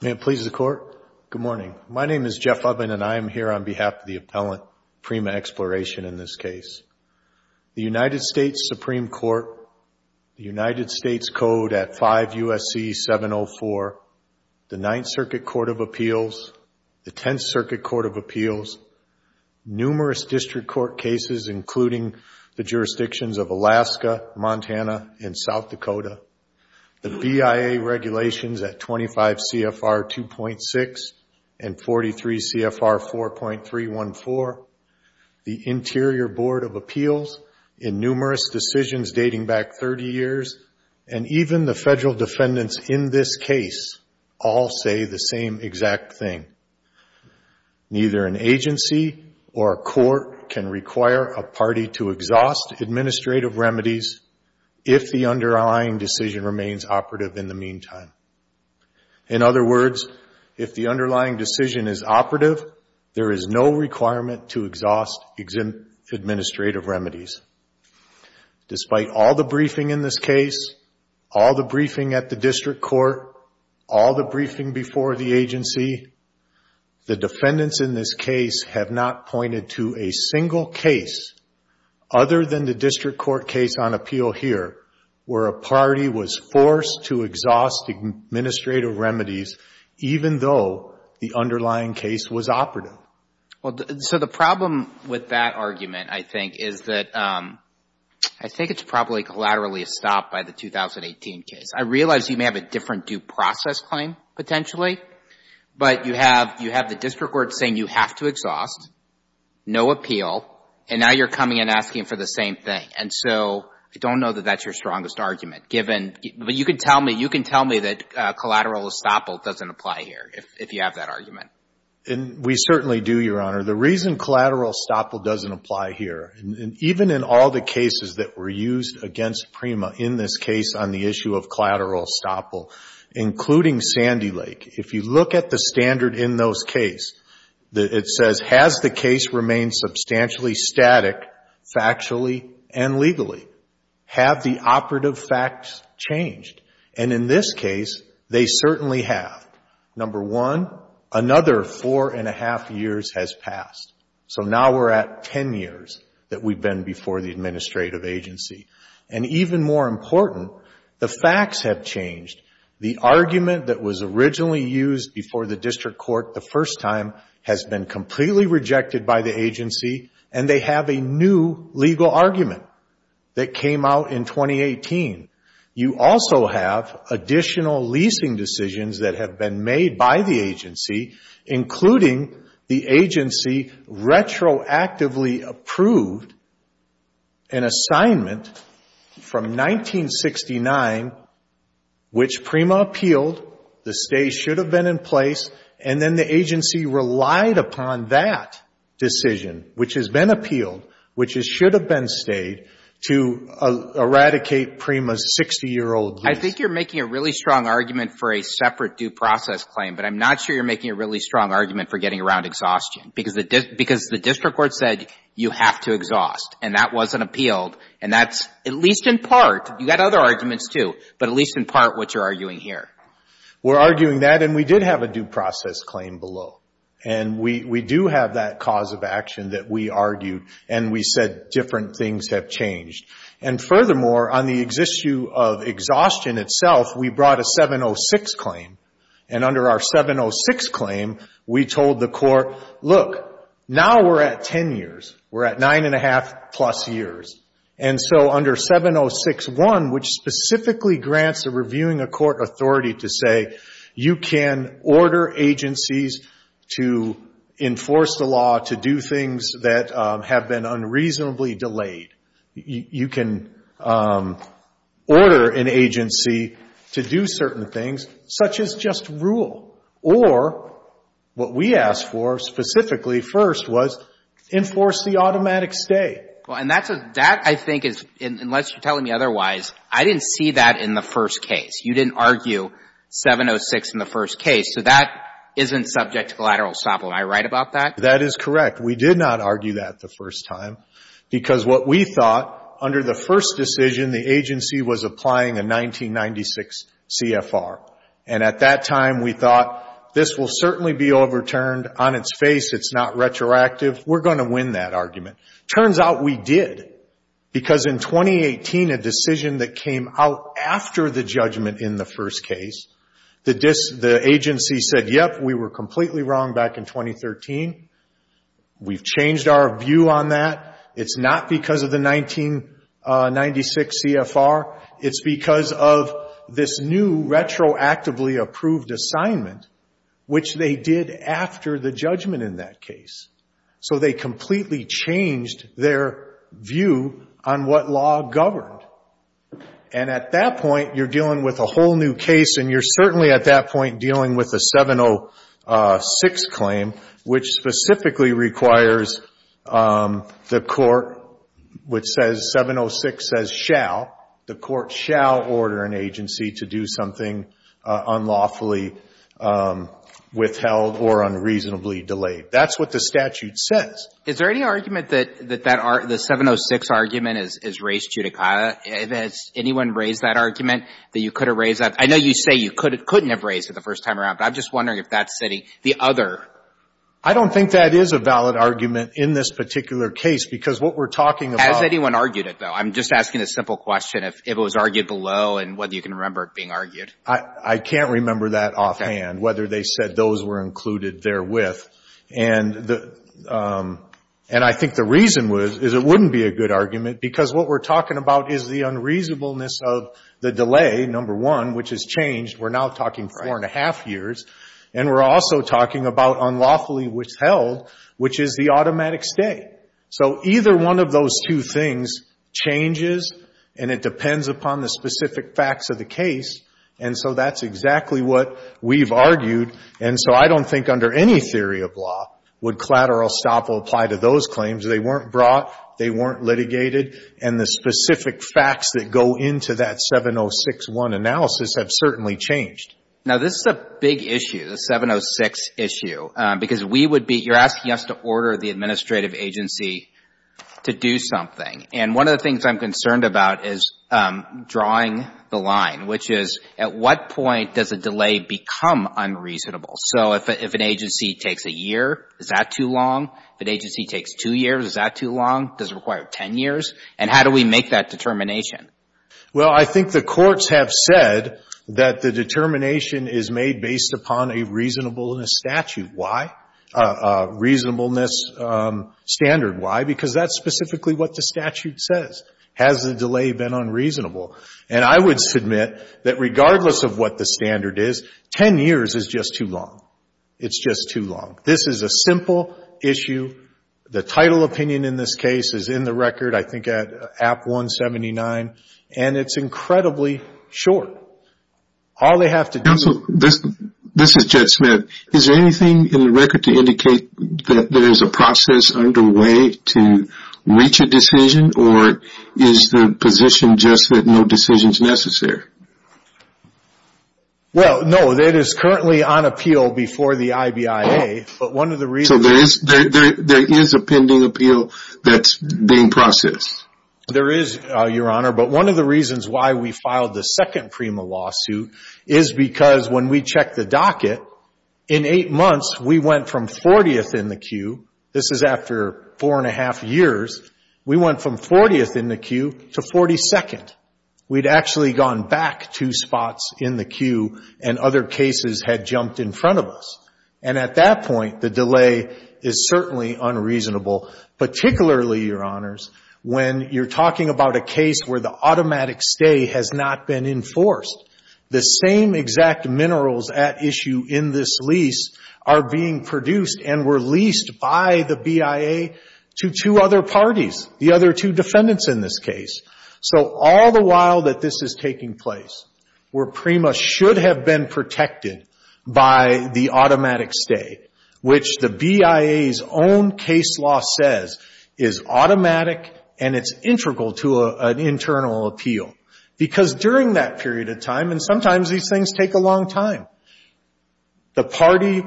May it please the Court, good morning. My name is Jeff Uvin and I am here on behalf of the Appellant Prima Exploration in this case. The United States Supreme Court, the United States Code at 5 U.S.C. 704, the Ninth Circuit Court of Appeals, the Tenth Circuit Court of Appeals, numerous district court cases including the jurisdictions of Alaska, Montana, and South Dakota, the BIA regulations at 25 CFR 2.6 and 43 CFR 4.314, the Interior Board of Appeals in numerous decisions dating back 30 years, and even the federal defendants in this case all say the same exact thing. Neither an agency or a court can require a party to exhaust administrative remedies if the underlying decision remains operative in the meantime. In other words, if the underlying decision is operative, there is no requirement to exhaust administrative remedies. Despite all the briefing in this case, all the briefing at the district court, all the briefing before the agency, the defendants in this case have not pointed to a single case other than the district court case on appeal here where a party was forced to exhaust administrative remedies even though the underlying case was operative. Well, so the problem with that argument, I think, is that I think it's probably collaterally estopped by the 2018 case. I realize you may have a different due process claim potentially, but you have the district court saying you have to exhaust, no appeal, and now you're coming and asking for the same thing. And so I don't know that that's your strongest argument given, but you can tell me that collateral estoppel doesn't apply here if you have that We certainly do, Your Honor. The reason collateral estoppel doesn't apply here, even in all the cases that were used against Prima in this case on the issue of collateral estoppel, including Sandy Lake, if you look at the standard in those cases, it says, has the case remained substantially static factually and legally? Have the operative facts changed? And in this case, they certainly have. Number one, another four and a half years has passed. So now we're at 10 years that we've been before the administrative agency. And even more important, the facts have changed. The argument that was originally used before the district court the first time has been completely rejected by the agency, and they have a new legal argument that came out in 2018. You also have additional leasing decisions that have been made by the agency, including the agency retroactively approved an assignment from 1969, which Prima appealed, the stay should have been in place, and then the agency relied upon that decision, which has been appealed, which should have been stayed, to eradicate Prima's 60-year-old lease. I think you're making a really strong argument for a separate due process claim, but I'm not sure you're making a really strong argument for getting around exhaustion, because the district court said you have to exhaust, and that wasn't appealed. And that's, at least in part, you've got other arguments, too, but at least in part what you're arguing here. We're arguing that, and we did have a due process claim below. And we do have that cause of action that we argued, and we said different things have changed. And furthermore, on the issue of exhaustion itself, we brought a 706 claim. And under our 706 claim, we told the court, look, now we're at 10 years. We're at 9 1⁄2 plus years. And so under 706.1, which specifically grants a reviewing a court authority to say, you can order agencies to enforce the law to do things that have been unreasonably delayed. You can do things that order an agency to do certain things, such as just rule. Or what we asked for specifically first was enforce the automatic stay. Well, and that's a — that, I think, is — unless you're telling me otherwise, I didn't see that in the first case. You didn't argue 706 in the first case. So that isn't subject to collateral estoppel. Am I right about that? That is correct. We did not argue that the first time, because what we thought, under the first decision, the agency was applying a 1996 CFR. And at that time, we thought, this will certainly be overturned. On its face, it's not retroactive. We're going to win that argument. Turns out, we did. Because in 2018, a decision that came out after the judgment in the first case, the agency said, yep, we were completely wrong back in 2013. We've changed our view on that. It's not because of the 1996 CFR. It's because of this new retroactively approved assignment, which they did after the judgment in that case. So they completely changed their view on what law governed. And at that point, you're dealing with a whole new case, and you're certainly at that point dealing with the 706 claim, which specifically requires the court, which says 706 says shall, the court shall order an agency to do something unlawfully withheld or unreasonably delayed. That's what the statute says. Is there any argument that the 706 argument is raised judicata? Has anyone raised that argument that you could have raised that? I know you say you couldn't have raised it the first time around, but I'm just wondering if that's sitting the other... I don't think that is a valid argument in this particular case, because what we're talking about... Has anyone argued it, though? I'm just asking a simple question, if it was argued below and whether you can remember it being argued. I can't remember that offhand, whether they said those were included therewith. And I think the reason is it wouldn't be a good argument, because what we're talking about is the unreasonableness of the delay, number one, which has changed. We're now talking four and a half years. And we're also talking about unlawfully withheld, which is the automatic stay. So either one of those two things changes, and it depends upon the specific facts of the case. And so that's exactly what we've argued. And so I don't think under any theory of law would collateral estoppel apply to those claims. They weren't brought. They weren't litigated. And the specific facts that go into that 706.1 analysis have certainly changed. Now this is a big issue, the 706 issue, because we would be... You're asking us to order the administrative agency to do something. And one of the things I'm concerned about is drawing the line, which is at what point does a delay become unreasonable? So if an agency takes a year, is that too long? If an agency takes two years, is that too long? Does it require 10 years? And how do we make that determination? Well, I think the courts have said that the determination is made based upon a reasonableness statute. Why? A reasonableness standard. Why? Because that's specifically what the statute says. Has the delay been unreasonable? And I would submit that regardless of what the reasonableness standard is, 10 years is just too long. It's just too long. This is a simple issue. The title opinion in this case is in the record, I think at App 179. And it's incredibly short. All they have to do... Counsel, this is Jed Smith. Is there anything in the record to indicate that there is a process underway to reach a decision? Or is the position just that no decision is necessary? Well, no. It is currently on appeal before the IBIA. But one of the reasons... So there is a pending appeal that's being processed? There is, Your Honor. But one of the reasons why we filed the second PREMA lawsuit is because when we checked the docket, in eight months, we went from 40th in the queue. This is after four and a half years. We went from 40th in the queue to 42nd. We'd actually gone back two spots in the queue and other cases had jumped in front of us. And at that point, the delay is certainly unreasonable, particularly, Your Honors, when you're talking about a case where the automatic stay has not been enforced. The same exact minerals at issue in this lease are being produced and were leased by the BIA to two other parties, the other two defendants in this case. So all the while that this is taking place, where PREMA should have been protected by the automatic stay, which the BIA's own case law says is automatic and it's integral to an internal appeal. Because during that period of time, and sometimes these things take a long time, the party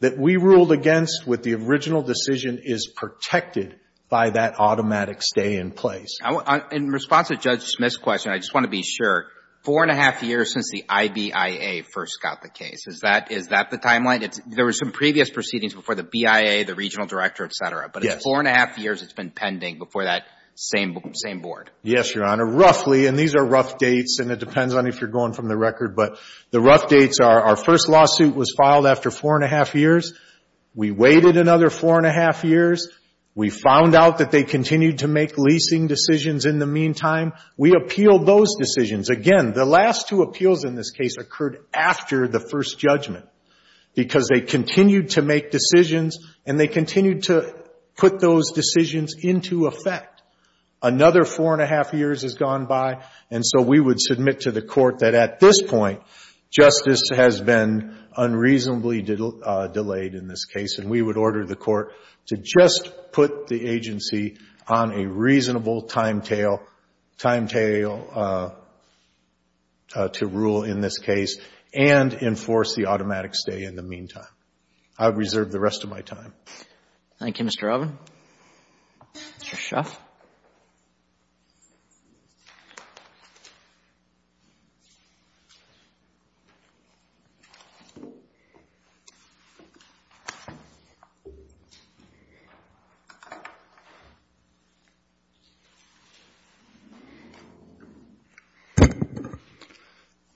that we ruled against with the original decision is protected by that automatic stay in place. In response to Judge Smith's question, I just want to be sure, four and a half years since the IBIA first got the case. Is that the timeline? There were some previous proceedings before the BIA, the regional director, et cetera. But it's four and a half years it's been pending before that same board. Yes, Your Honor. Roughly, and these are rough dates, and it depends on if you're going from the record, but the rough dates are our first lawsuit was filed after four and a half years. We waited another four and a half years. We found out that they continued to make leasing decisions in the meantime. We appealed those decisions. Again, the last two appeals in this case occurred after the first judgment, because they continued to make decisions and they continued to put those decisions into effect. Another four and a half years has gone by, and so we would submit to the court that at this point, justice has been unreasonably delayed in this case, and we would order the court to just put the agency on a reasonable timetable to rule in this case and enforce the automatic stay in the meantime. I reserve the rest of my time. Thank you, Mr. Robin. Mr. Schaff.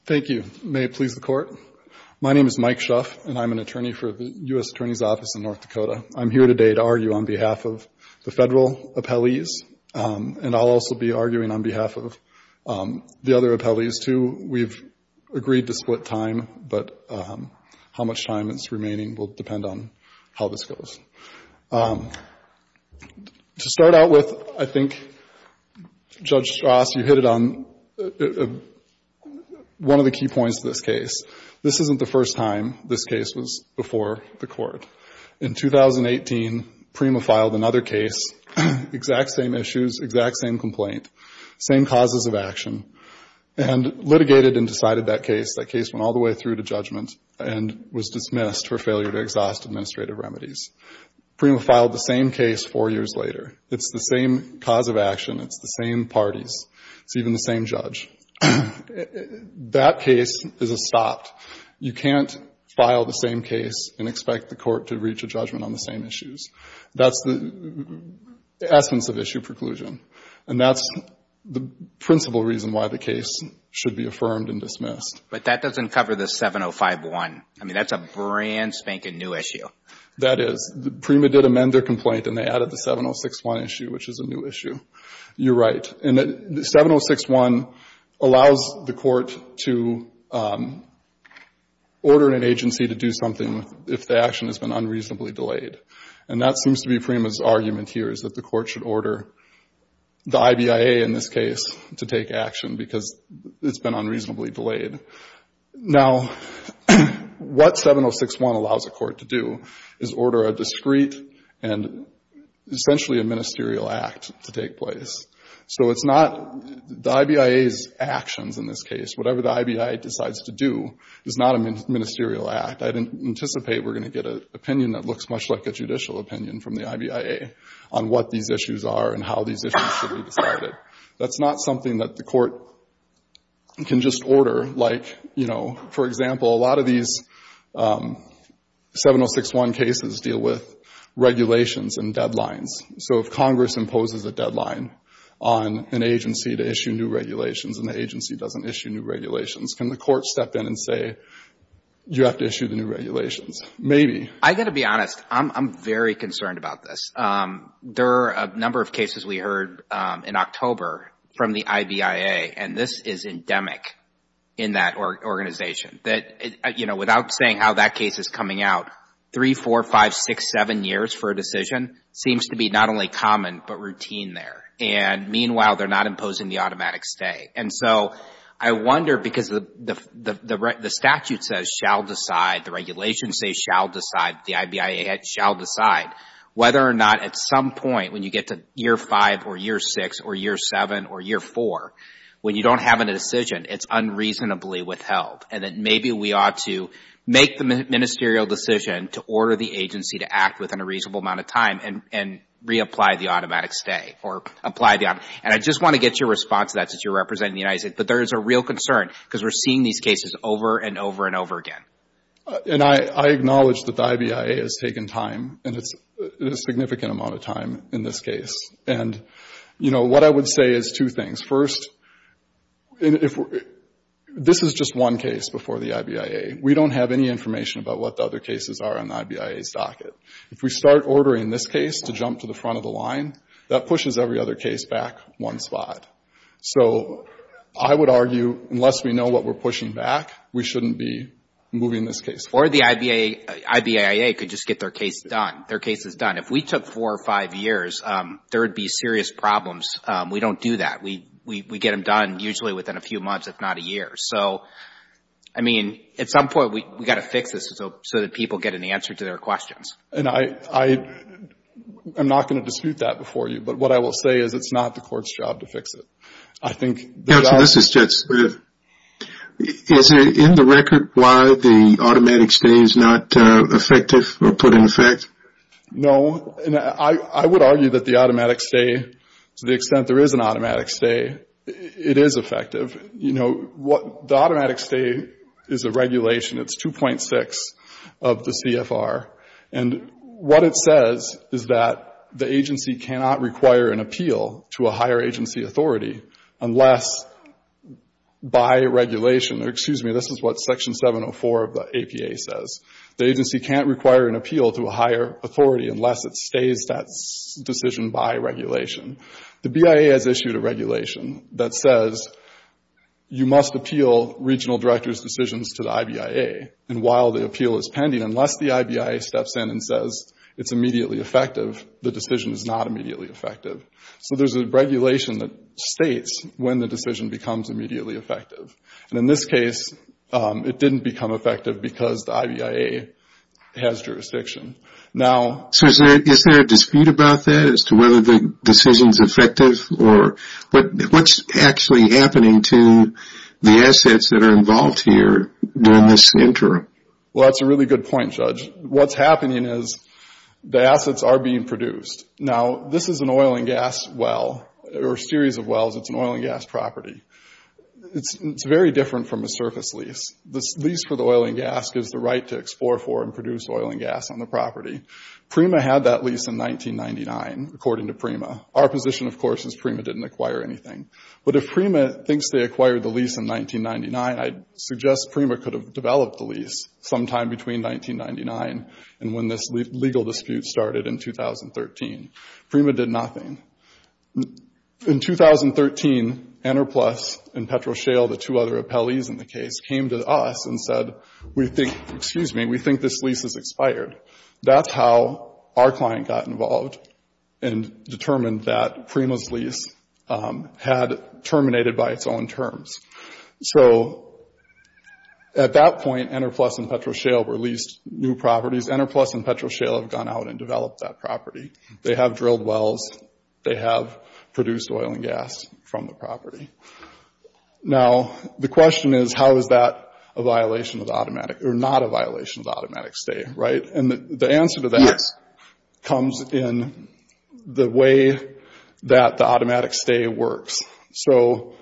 Thank you. May it please the Court. My name is Mike Schaff, and I'm an attorney for the U.S. Attorney's Office in North Dakota. I'm here today to argue on behalf of the Federal appellees, and I'll also be arguing on behalf of the other appellees, too. We've agreed to split time, but how much time is remaining will depend on how this goes. To start out with, I think, Judge Strauss, you hit it on one of the key points of this case. This isn't the first time this case was before the court. In 2018, Prima filed another case, exact same issues, exact same complaint, same causes of action, and litigated and decided that case. That case went all the way through to judgment and was dismissed for failure to exhaust administrative remedies. Prima filed the same case four years later. It's the same cause of action. It's the same parties. It's even the same judge. That case is a stop. You can't file the same case and expect the court to reach a judgment on the same issues. That's the essence of issue preclusion, and that's the principal reason why the case should be affirmed and dismissed. But that doesn't cover the 7051. I mean, that's a brand spanking new issue. That is. Prima did amend their complaint, and they added the 7061 issue, which is a new issue. You're right. 7061 allows the court to order an agency to do something if the action has been unreasonably delayed. That seems to be Prima's argument here, is that the court should order the IBIA, in this case, to take action because it's been unreasonably delayed. Now what 7061 allows a court to do is order a discrete and essentially a ministerial act to take place. So it's not the IBIA's actions in this case. Whatever the IBIA decides to do is not a ministerial act. I anticipate we're going to get an opinion that looks much like a judicial opinion from the IBIA on what these issues are and how these issues should be decided. That's not something that the court can just order, like, you know, for example, a lot of these 7061 cases deal with regulations and deadlines. So if Congress imposes a deadline on an agency to issue new regulations and the agency doesn't issue new regulations, can the court step in and say, you have to issue the new regulations? Maybe. I've got to be honest. I'm very concerned about this. There are a number of cases we heard in October from the IBIA, and this is endemic in that organization. That, you know, without saying how that case is coming out, three, four, five, six, seven years for a decision seems to be not only common but routine there. And meanwhile, they're not imposing the automatic stay. And so I wonder, because the statute says shall decide, the regulations say shall decide, the IBIA shall decide whether or not at some point when you get to year five or year six or year seven or year four, when you don't have a decision, it's unreasonably withheld. And that maybe we ought to make the ministerial decision to order the agency to act within a reasonable amount of time and reapply the automatic stay or apply the automatic. And I just want to get your response to that since you're representing the United States. But there is a real concern because we're seeing these cases over and over and over again. MR. GARRETT. And I acknowledge that the IBIA has taken time, and it's a significant amount of time in this case. And, you know, what I would say is two things. First, this is just one case before the IBIA. We don't have any information about what the other cases are in the IBIA's docket. If we start ordering this case to jump to the front of the line, that pushes every other case back one spot. So I would argue unless we know what we're pushing back, we shouldn't be moving this case forward. MR. STEINWALD. Or the IBIA could just get their case done, their cases done. If we took four or five years, there would be serious problems. We don't do that. We get them done usually within a few months, if not a year. So, I mean, at some point, we've got to fix this so that people get an answer to their questions. MR. GARRETT. And I'm not going to dispute that before you. But what I will say is it's not the Court's job to fix it. I think there's a lot of issues that we need to address. MR. NEUMANN. Is there in the record why the automatic stay is not effective or put in effect? MR. GARRETT. No. I would argue that the automatic stay, to the extent there is an automatic stay, it is effective. You know, the automatic stay is a regulation. It's 2.6 of the CFR. And what it says is that the agency cannot require an appeal to a higher agency authority unless by regulation, or excuse me, this is what Section 704 of the APA says. The agency can't require an appeal to a higher authority unless it stays that decision by regulation. The BIA has issued a regulation that says you must appeal regional directors' decisions to the IBIA. And while the appeal is pending, unless the IBIA steps in and says it's immediately effective, the decision is not immediately effective. So there's a regulation that states when the decision becomes immediately effective. And in this case, it didn't become effective because the IBIA has jurisdiction. MR. NEUMANN. So is there a dispute about that as to whether the decision is effective? What's actually happening to the assets that are involved here during this interim? MR. BELLOW. Well, that's a really good point, Judge. What's happening is the assets are being produced. Now, this is an oil and gas well, or a series of wells. It's an oil and gas property. It's very different from a surface lease. The lease for the oil and gas gives the right to explore for and produce oil and gas on the property. Prima had that lease in 1999, according to Prima. Our position, of course, is Prima didn't acquire anything. But if Prima thinks they acquired the lease in 1999, I'd suggest Prima could have developed the lease sometime between 1999 and when this legal dispute started in 2013. Prima did nothing. In 2013, Enerplus and PetroShale, the two other appellees in the case, came to us and said, we think, excuse me, we think this lease has expired. That's how our client got involved and determined that Prima's lease had terminated by its own terms. So, at that point, Enerplus and PetroShale released new properties. Enerplus and PetroShale have gone out and developed that property. They have drilled wells. They have produced oil and gas from the property. Now, the question is, how is that a violation of automatic, or not a violation of automatic stay, right? And the answer to that comes in the way that the automatic stay works. So,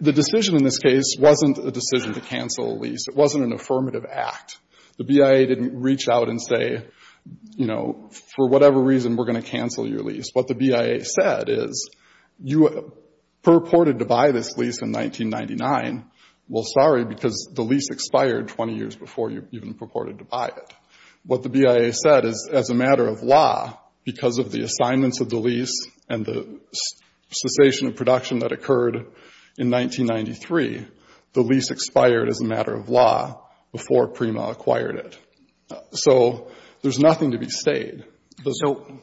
the decision in this case wasn't a decision to cancel a lease. It wasn't an affirmative act. The BIA didn't reach out and say, you know, for whatever reason, we're going to cancel your lease. What the BIA said is, you purported to buy this lease in 1999. Well, sorry, because the lease expired 20 years before you even purported to buy it. What the BIA said is, as a matter of law, because of the assignments of the lease and the cessation of production that occurred in 1993, the lease expired as a matter of law before Prima acquired it. So, there's nothing to be stayed.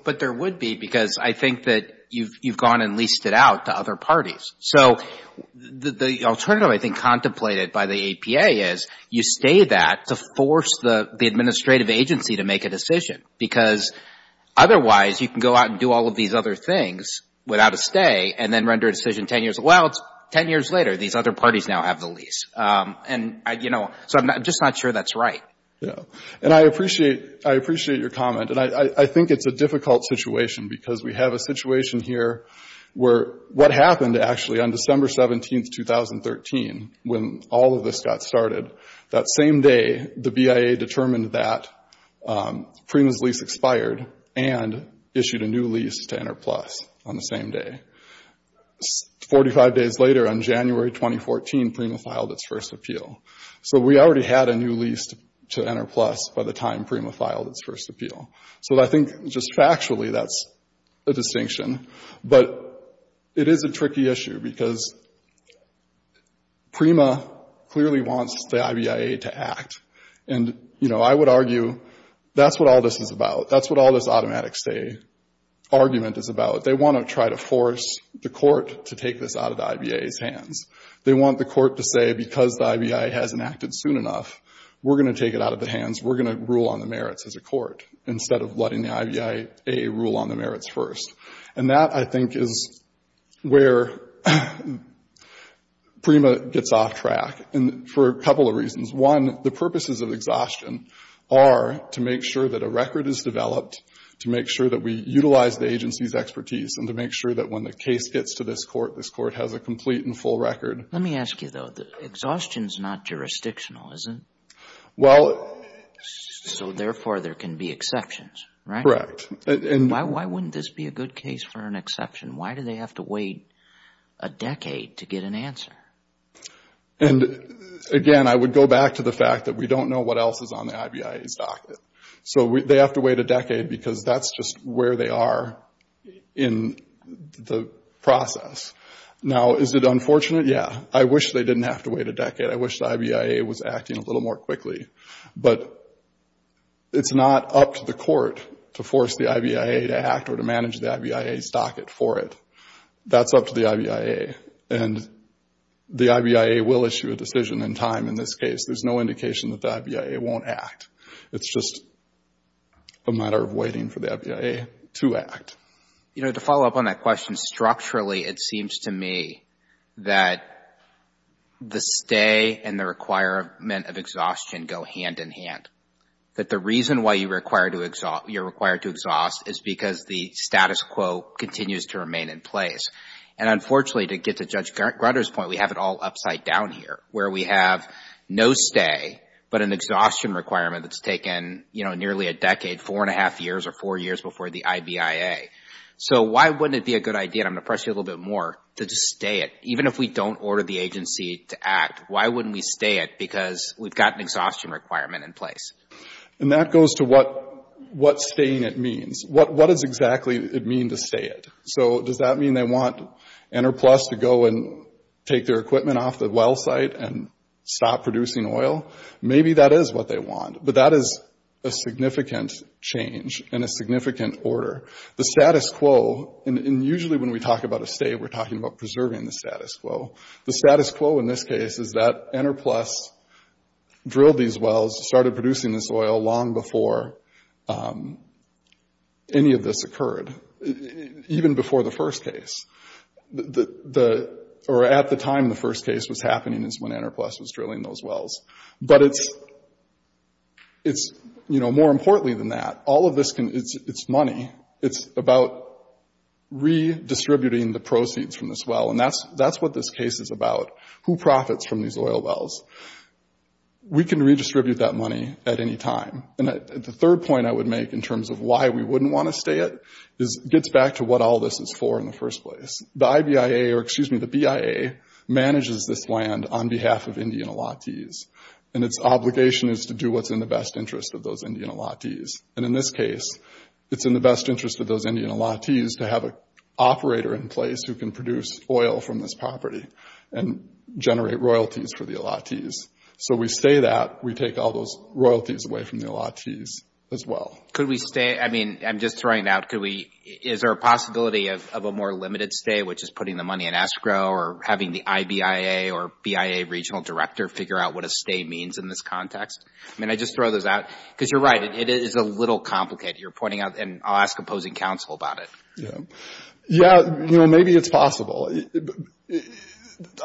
But there would be, because I think that you've gone and leased it out to other parties. So, the alternative, I think, contemplated by the APA is, you stay that to force the administrative agency to make a decision. Because otherwise, you can go out and do all of these other things without a stay, and then render a decision 10 years later. Well, it's 10 years later. These other parties now have the lease. And, you know, so I'm just not sure that's right. Yeah. And I appreciate your comment. And I think it's a difficult situation, because we have a situation here where what happened, actually, on December 17, 2013, when all of this got started, that same day, the BIA determined that Prima's lease expired and issued a new lease to Enterplus on the same day. 45 days later, on January 2014, Prima filed its first appeal. So, we already had a new lease to Enterplus by the time Prima filed its first appeal. So, I think, just factually, that's a distinction. But it is a tricky issue, because Prima clearly wants the IBIA to act. And, you know, I would argue that's what all this is about. That's what all this automatic stay argument is about. They want to try to force the court to take this out of the IBIA's hands. They want the court to say, because the IBIA hasn't acted soon enough, we're going to take it out of the hands. We're going to rule on the merits as a court, instead of letting the IBIA rule on the merits first. And that, I think, is where Prima gets off track, and for a couple of reasons. One, the purposes of exhaustion are to make sure that a record is developed, to make sure that we utilize the agency's expertise, and to make sure that when the case gets to this court, this court has a complete and full record. Let me ask you, though. Exhaustion is not jurisdictional, is it? Well... So, therefore, there can be exceptions, right? Correct. Why wouldn't this be a good case for an exception? Why do they have to wait a decade to get an And, again, I would go back to the fact that we don't know what else is on the IBIA's docket. So, they have to wait a decade, because that's just where they are in the process. Now, is it unfortunate? Yeah. I wish they didn't have to wait a decade. I wish the IBIA was acting a little more quickly. But it's not up to the court to force the IBIA to act or to manage the IBIA's docket for it. That's up to the IBIA. And the IBIA will issue a decision in time in this case. There's no indication that the IBIA won't act. It's just a matter of waiting for the IBIA to act. You know, to follow up on that question, structurally, it seems to me that the stay and the requirement of exhaustion go hand in hand. That the reason why you're required to exhaust is because the status quo continues to remain in place. And, unfortunately, to get to Judge Grutter's point, we have it all upside down here, where we have no stay, but an exhaustion requirement that's taken nearly a decade, four and a half years or four years before the IBIA. So, why wouldn't it be a good idea, and I'm going to press you a little bit more, to just stay it? Even if we don't order the agency to act, why wouldn't we stay it? Because we've got an exhaustion requirement in place. And that goes to what staying it means. What does exactly it mean to stay it? So, does that mean they want Interplus to go and take their equipment off the well site and stop producing oil? Maybe that is what they want, but that is a significant change and a significant order. The status quo, and usually when we talk about a stay, we're talking about preserving the status quo. The status quo in this case is that Interplus drilled these wells, started producing this oil long before any of this occurred, even before the first case. Or at the time the first case was happening is when Interplus was drilling those wells. But it's, you know, more importantly than that, all of this, it's money. It's about redistributing the proceeds from this well, and that's what this case is about. Who profits from these oil wells? We can redistribute that money at any time. And the third point I would make in terms of why we wouldn't want to stay it, gets back to what all this is for in the first place. The IBIA, or excuse me, the BIA manages this land on behalf of Indian Allottees, and its obligation is to do what's in the best interest of those Indian Allottees. And in this case, it's in the best interest of those Indian Allottees to have an operator in place who can produce oil from this property and generate royalties for the Allottees. So we stay that, we take all those royalties away from the Allottees as well. Could we stay, I mean, I'm just throwing it out. Is there a possibility of a more limited stay, which is putting the money in escrow or having the IBIA or BIA regional director figure out what a stay means in this context? I mean, I just throw those out. Because you're right, it is a little complicated. You're pointing out, and I'll ask opposing counsel about it. Yeah, you know, maybe it's possible.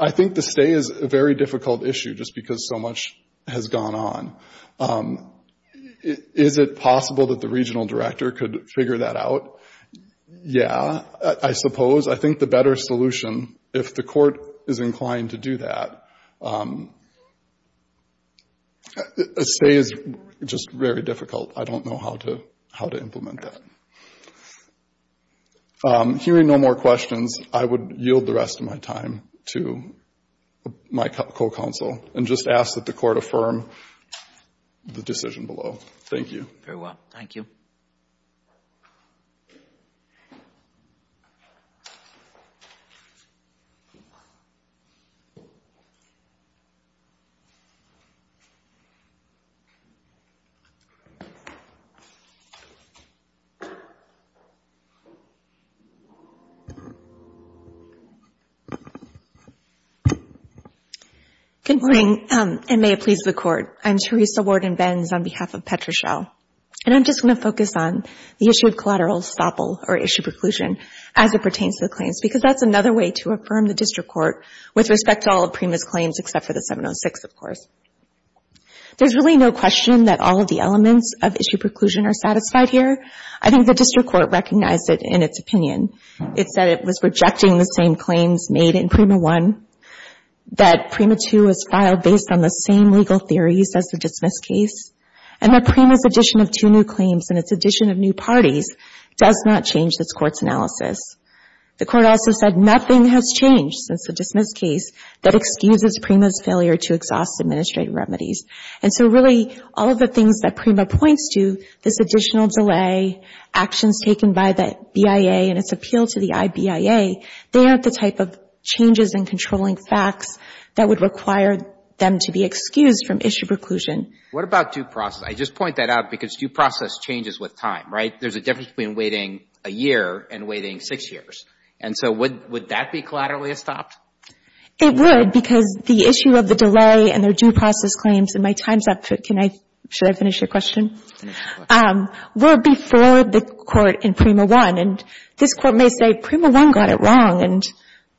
I think the stay is a very difficult issue just because so much has gone on. Is it possible that the regional director could figure that out? Yeah, I suppose. I think the better solution, if the court is inclined to do that, a stay is just very difficult. I don't know how to implement that. Hearing no more questions, I would yield the rest of my time to my co-counsel and just ask that the court affirm the decision below. Thank you. Very well, thank you. Good morning, and may it please the Court. I'm Teresa Worden-Benz on behalf of Petrochelle. And I'm just going to focus on the issue of collateral estoppel or issue preclusion as it pertains to the claims, because that's another way to affirm the district court with respect to all of Prima's claims except for the 706, of course. There's really no question that all of the elements of issue preclusion are satisfied here. I think the district court recognized it in its opinion. It said it was rejecting the same claims made in Prima I, that Prima II was filed based on the same legal theories as the dismiss case, and that Prima's addition of two new claims and its addition of new parties does not change this Court's analysis. The Court also said nothing has changed since the dismiss case that excuses Prima's failure to exhaust administrative remedies. And so, really, all of the things that Prima points to, this additional delay, actions taken by the BIA and its appeal to the IBIA, they aren't the type of changes in controlling facts that would require them to be excused from issue preclusion. What about due process? I just point that out, because due process changes with time, right? There's a difference between waiting a year and waiting six years. And so would that be collaterally estopped? It would, because the issue of the delay and their due process claims, and my time's up. Can I — should I finish your question? We're before the Court in Prima I, and this Court may say Prima I got it wrong, and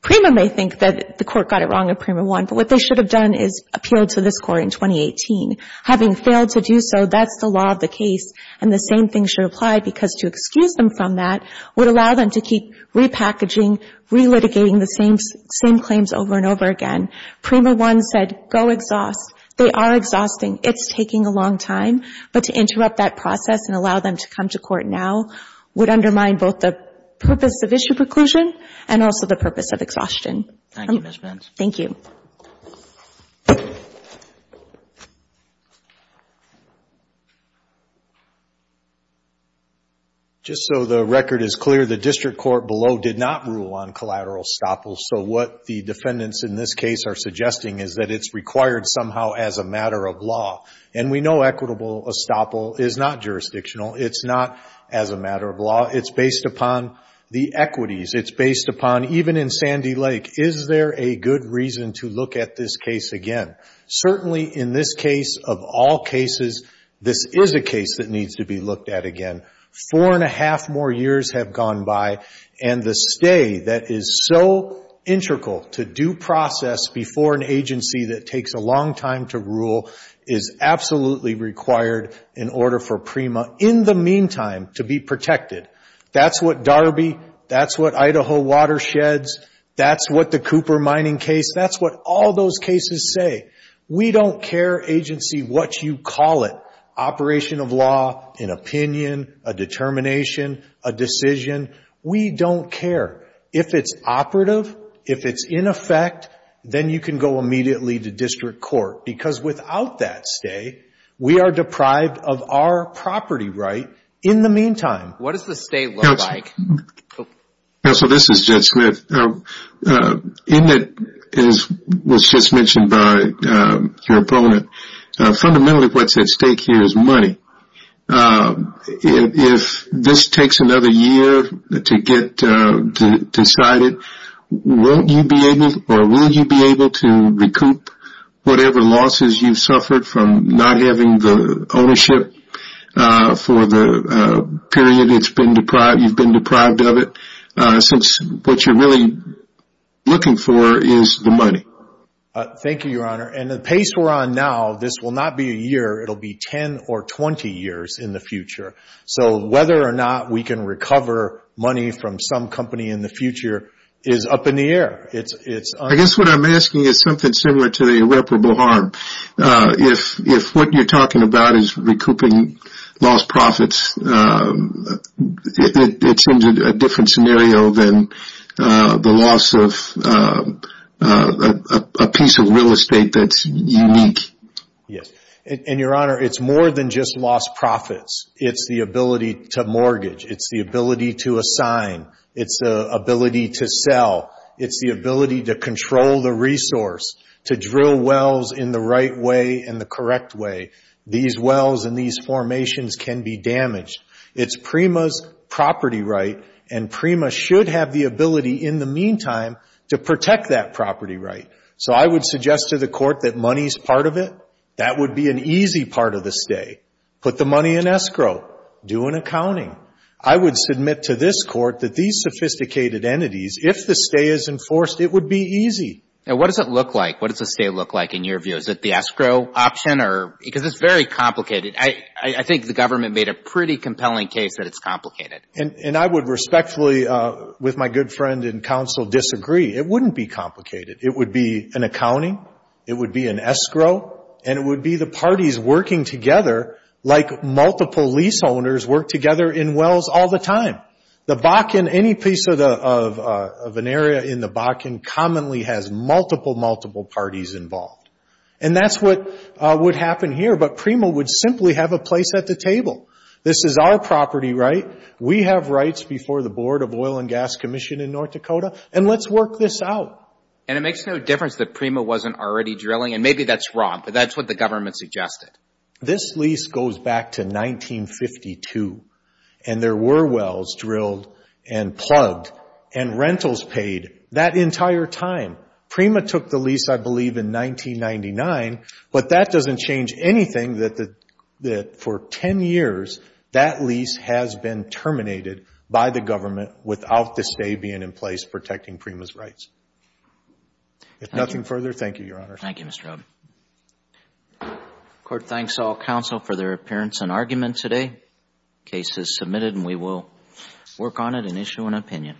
Prima may think that the Court got it wrong in Prima I, but what they should have done is appealed to this Court in 2018. Having failed to do so, that's the law of the case, and the same thing should apply, because to excuse them from that would allow them to keep repackaging, relitigating the same claims over and over again. Prima I said, go exhaust. They are exhausting. It's taking a long time, but to interrupt that process and allow them to come to court now would undermine both the purpose of issue preclusion and also the purpose of the case. Just so the record is clear, the district court below did not rule on collateral estoppel, so what the defendants in this case are suggesting is that it's required somehow as a matter of law. And we know equitable estoppel is not jurisdictional. It's not as a matter of law. It's based upon the equities. It's based upon even in Sandy Lake, is there a good reason to look at this case again? Certainly in this case, of all cases, this is a case that needs to be looked at again. Four and a half more years have gone by, and the stay that is so integral to due process before an agency that takes a long time to rule is absolutely required in order for Prima, in the case of the Cooper case, that's what Darby, that's what Idaho watersheds, that's what the Cooper mining case, that's what all those cases say. We don't care, agency, what you call it, operation of law, an opinion, a determination, a decision. We don't care. If it's operative, if it's in effect, then you can go immediately to district court, because without that stay, we are deprived of our property right in the meantime. Judge Smith, in that, as was just mentioned by your opponent, fundamentally what's at stake here is money. If this takes another year to get decided, will you be able to recoup whatever losses you have incurred over the period you've been deprived of it, since what you're really looking for is the money? Thank you, Your Honor. And the pace we're on now, this will not be a year, it will be 10 or 20 years in the future. So whether or not we can recover money from some company in the future is up in the air. I guess what I'm asking is something similar to the irreparable harm. If what you're talking about is recouping lost profits, it seems a different scenario than the loss of a piece of real estate that's unique. Yes. And, Your Honor, it's more than just lost profits. It's the ability to mortgage. It's the ability to assign. It's the ability to sell. It's the ability to control the resource, to drill wells in the right way and the correct way. These wells and these formations can be damaged. It's Prima's property right, and Prima should have the ability, in the meantime, to protect that property right. So I would suggest to the Court that money is part of it. That would be an easy part of the stay. Put the money in escrow. Do an accounting. I would submit to this Court that these sophisticated entities, if the stay is enforced, it would be easy. Now, what does it look like? What does a stay look like in your view? Is it the escrow option? Because it's very complicated. I think the government made a pretty compelling case that it's complicated. And I would respectfully, with my good friend in counsel, disagree. It wouldn't be complicated. It would be an accounting. It would be an escrow. And it would be the parties working together like multiple lease owners work together in wells all the time. The Bakken, any piece of an area in the Bakken, commonly has no escrow. There's multiple, multiple parties involved. And that's what would happen here. But Prima would simply have a place at the table. This is our property right. We have rights before the Board of Oil and Gas Commission in North Dakota. And let's work this out. And it makes no difference that Prima wasn't already drilling. And maybe that's wrong, but that's what the government suggested. This lease goes back to 1952. And there were wells drilled and plugged and rentals paid that entire time. Prima took the lease, I believe, in 1999. But that doesn't change anything that for 10 years that lease has been terminated by the government without the stay being in place protecting Prima's rights. If nothing further, thank you, Your Honor. Thank you, Mr. Oden. Court thanks all counsel for their appearance and argument today. Case is submitted. And we will work on it and issue an opinion.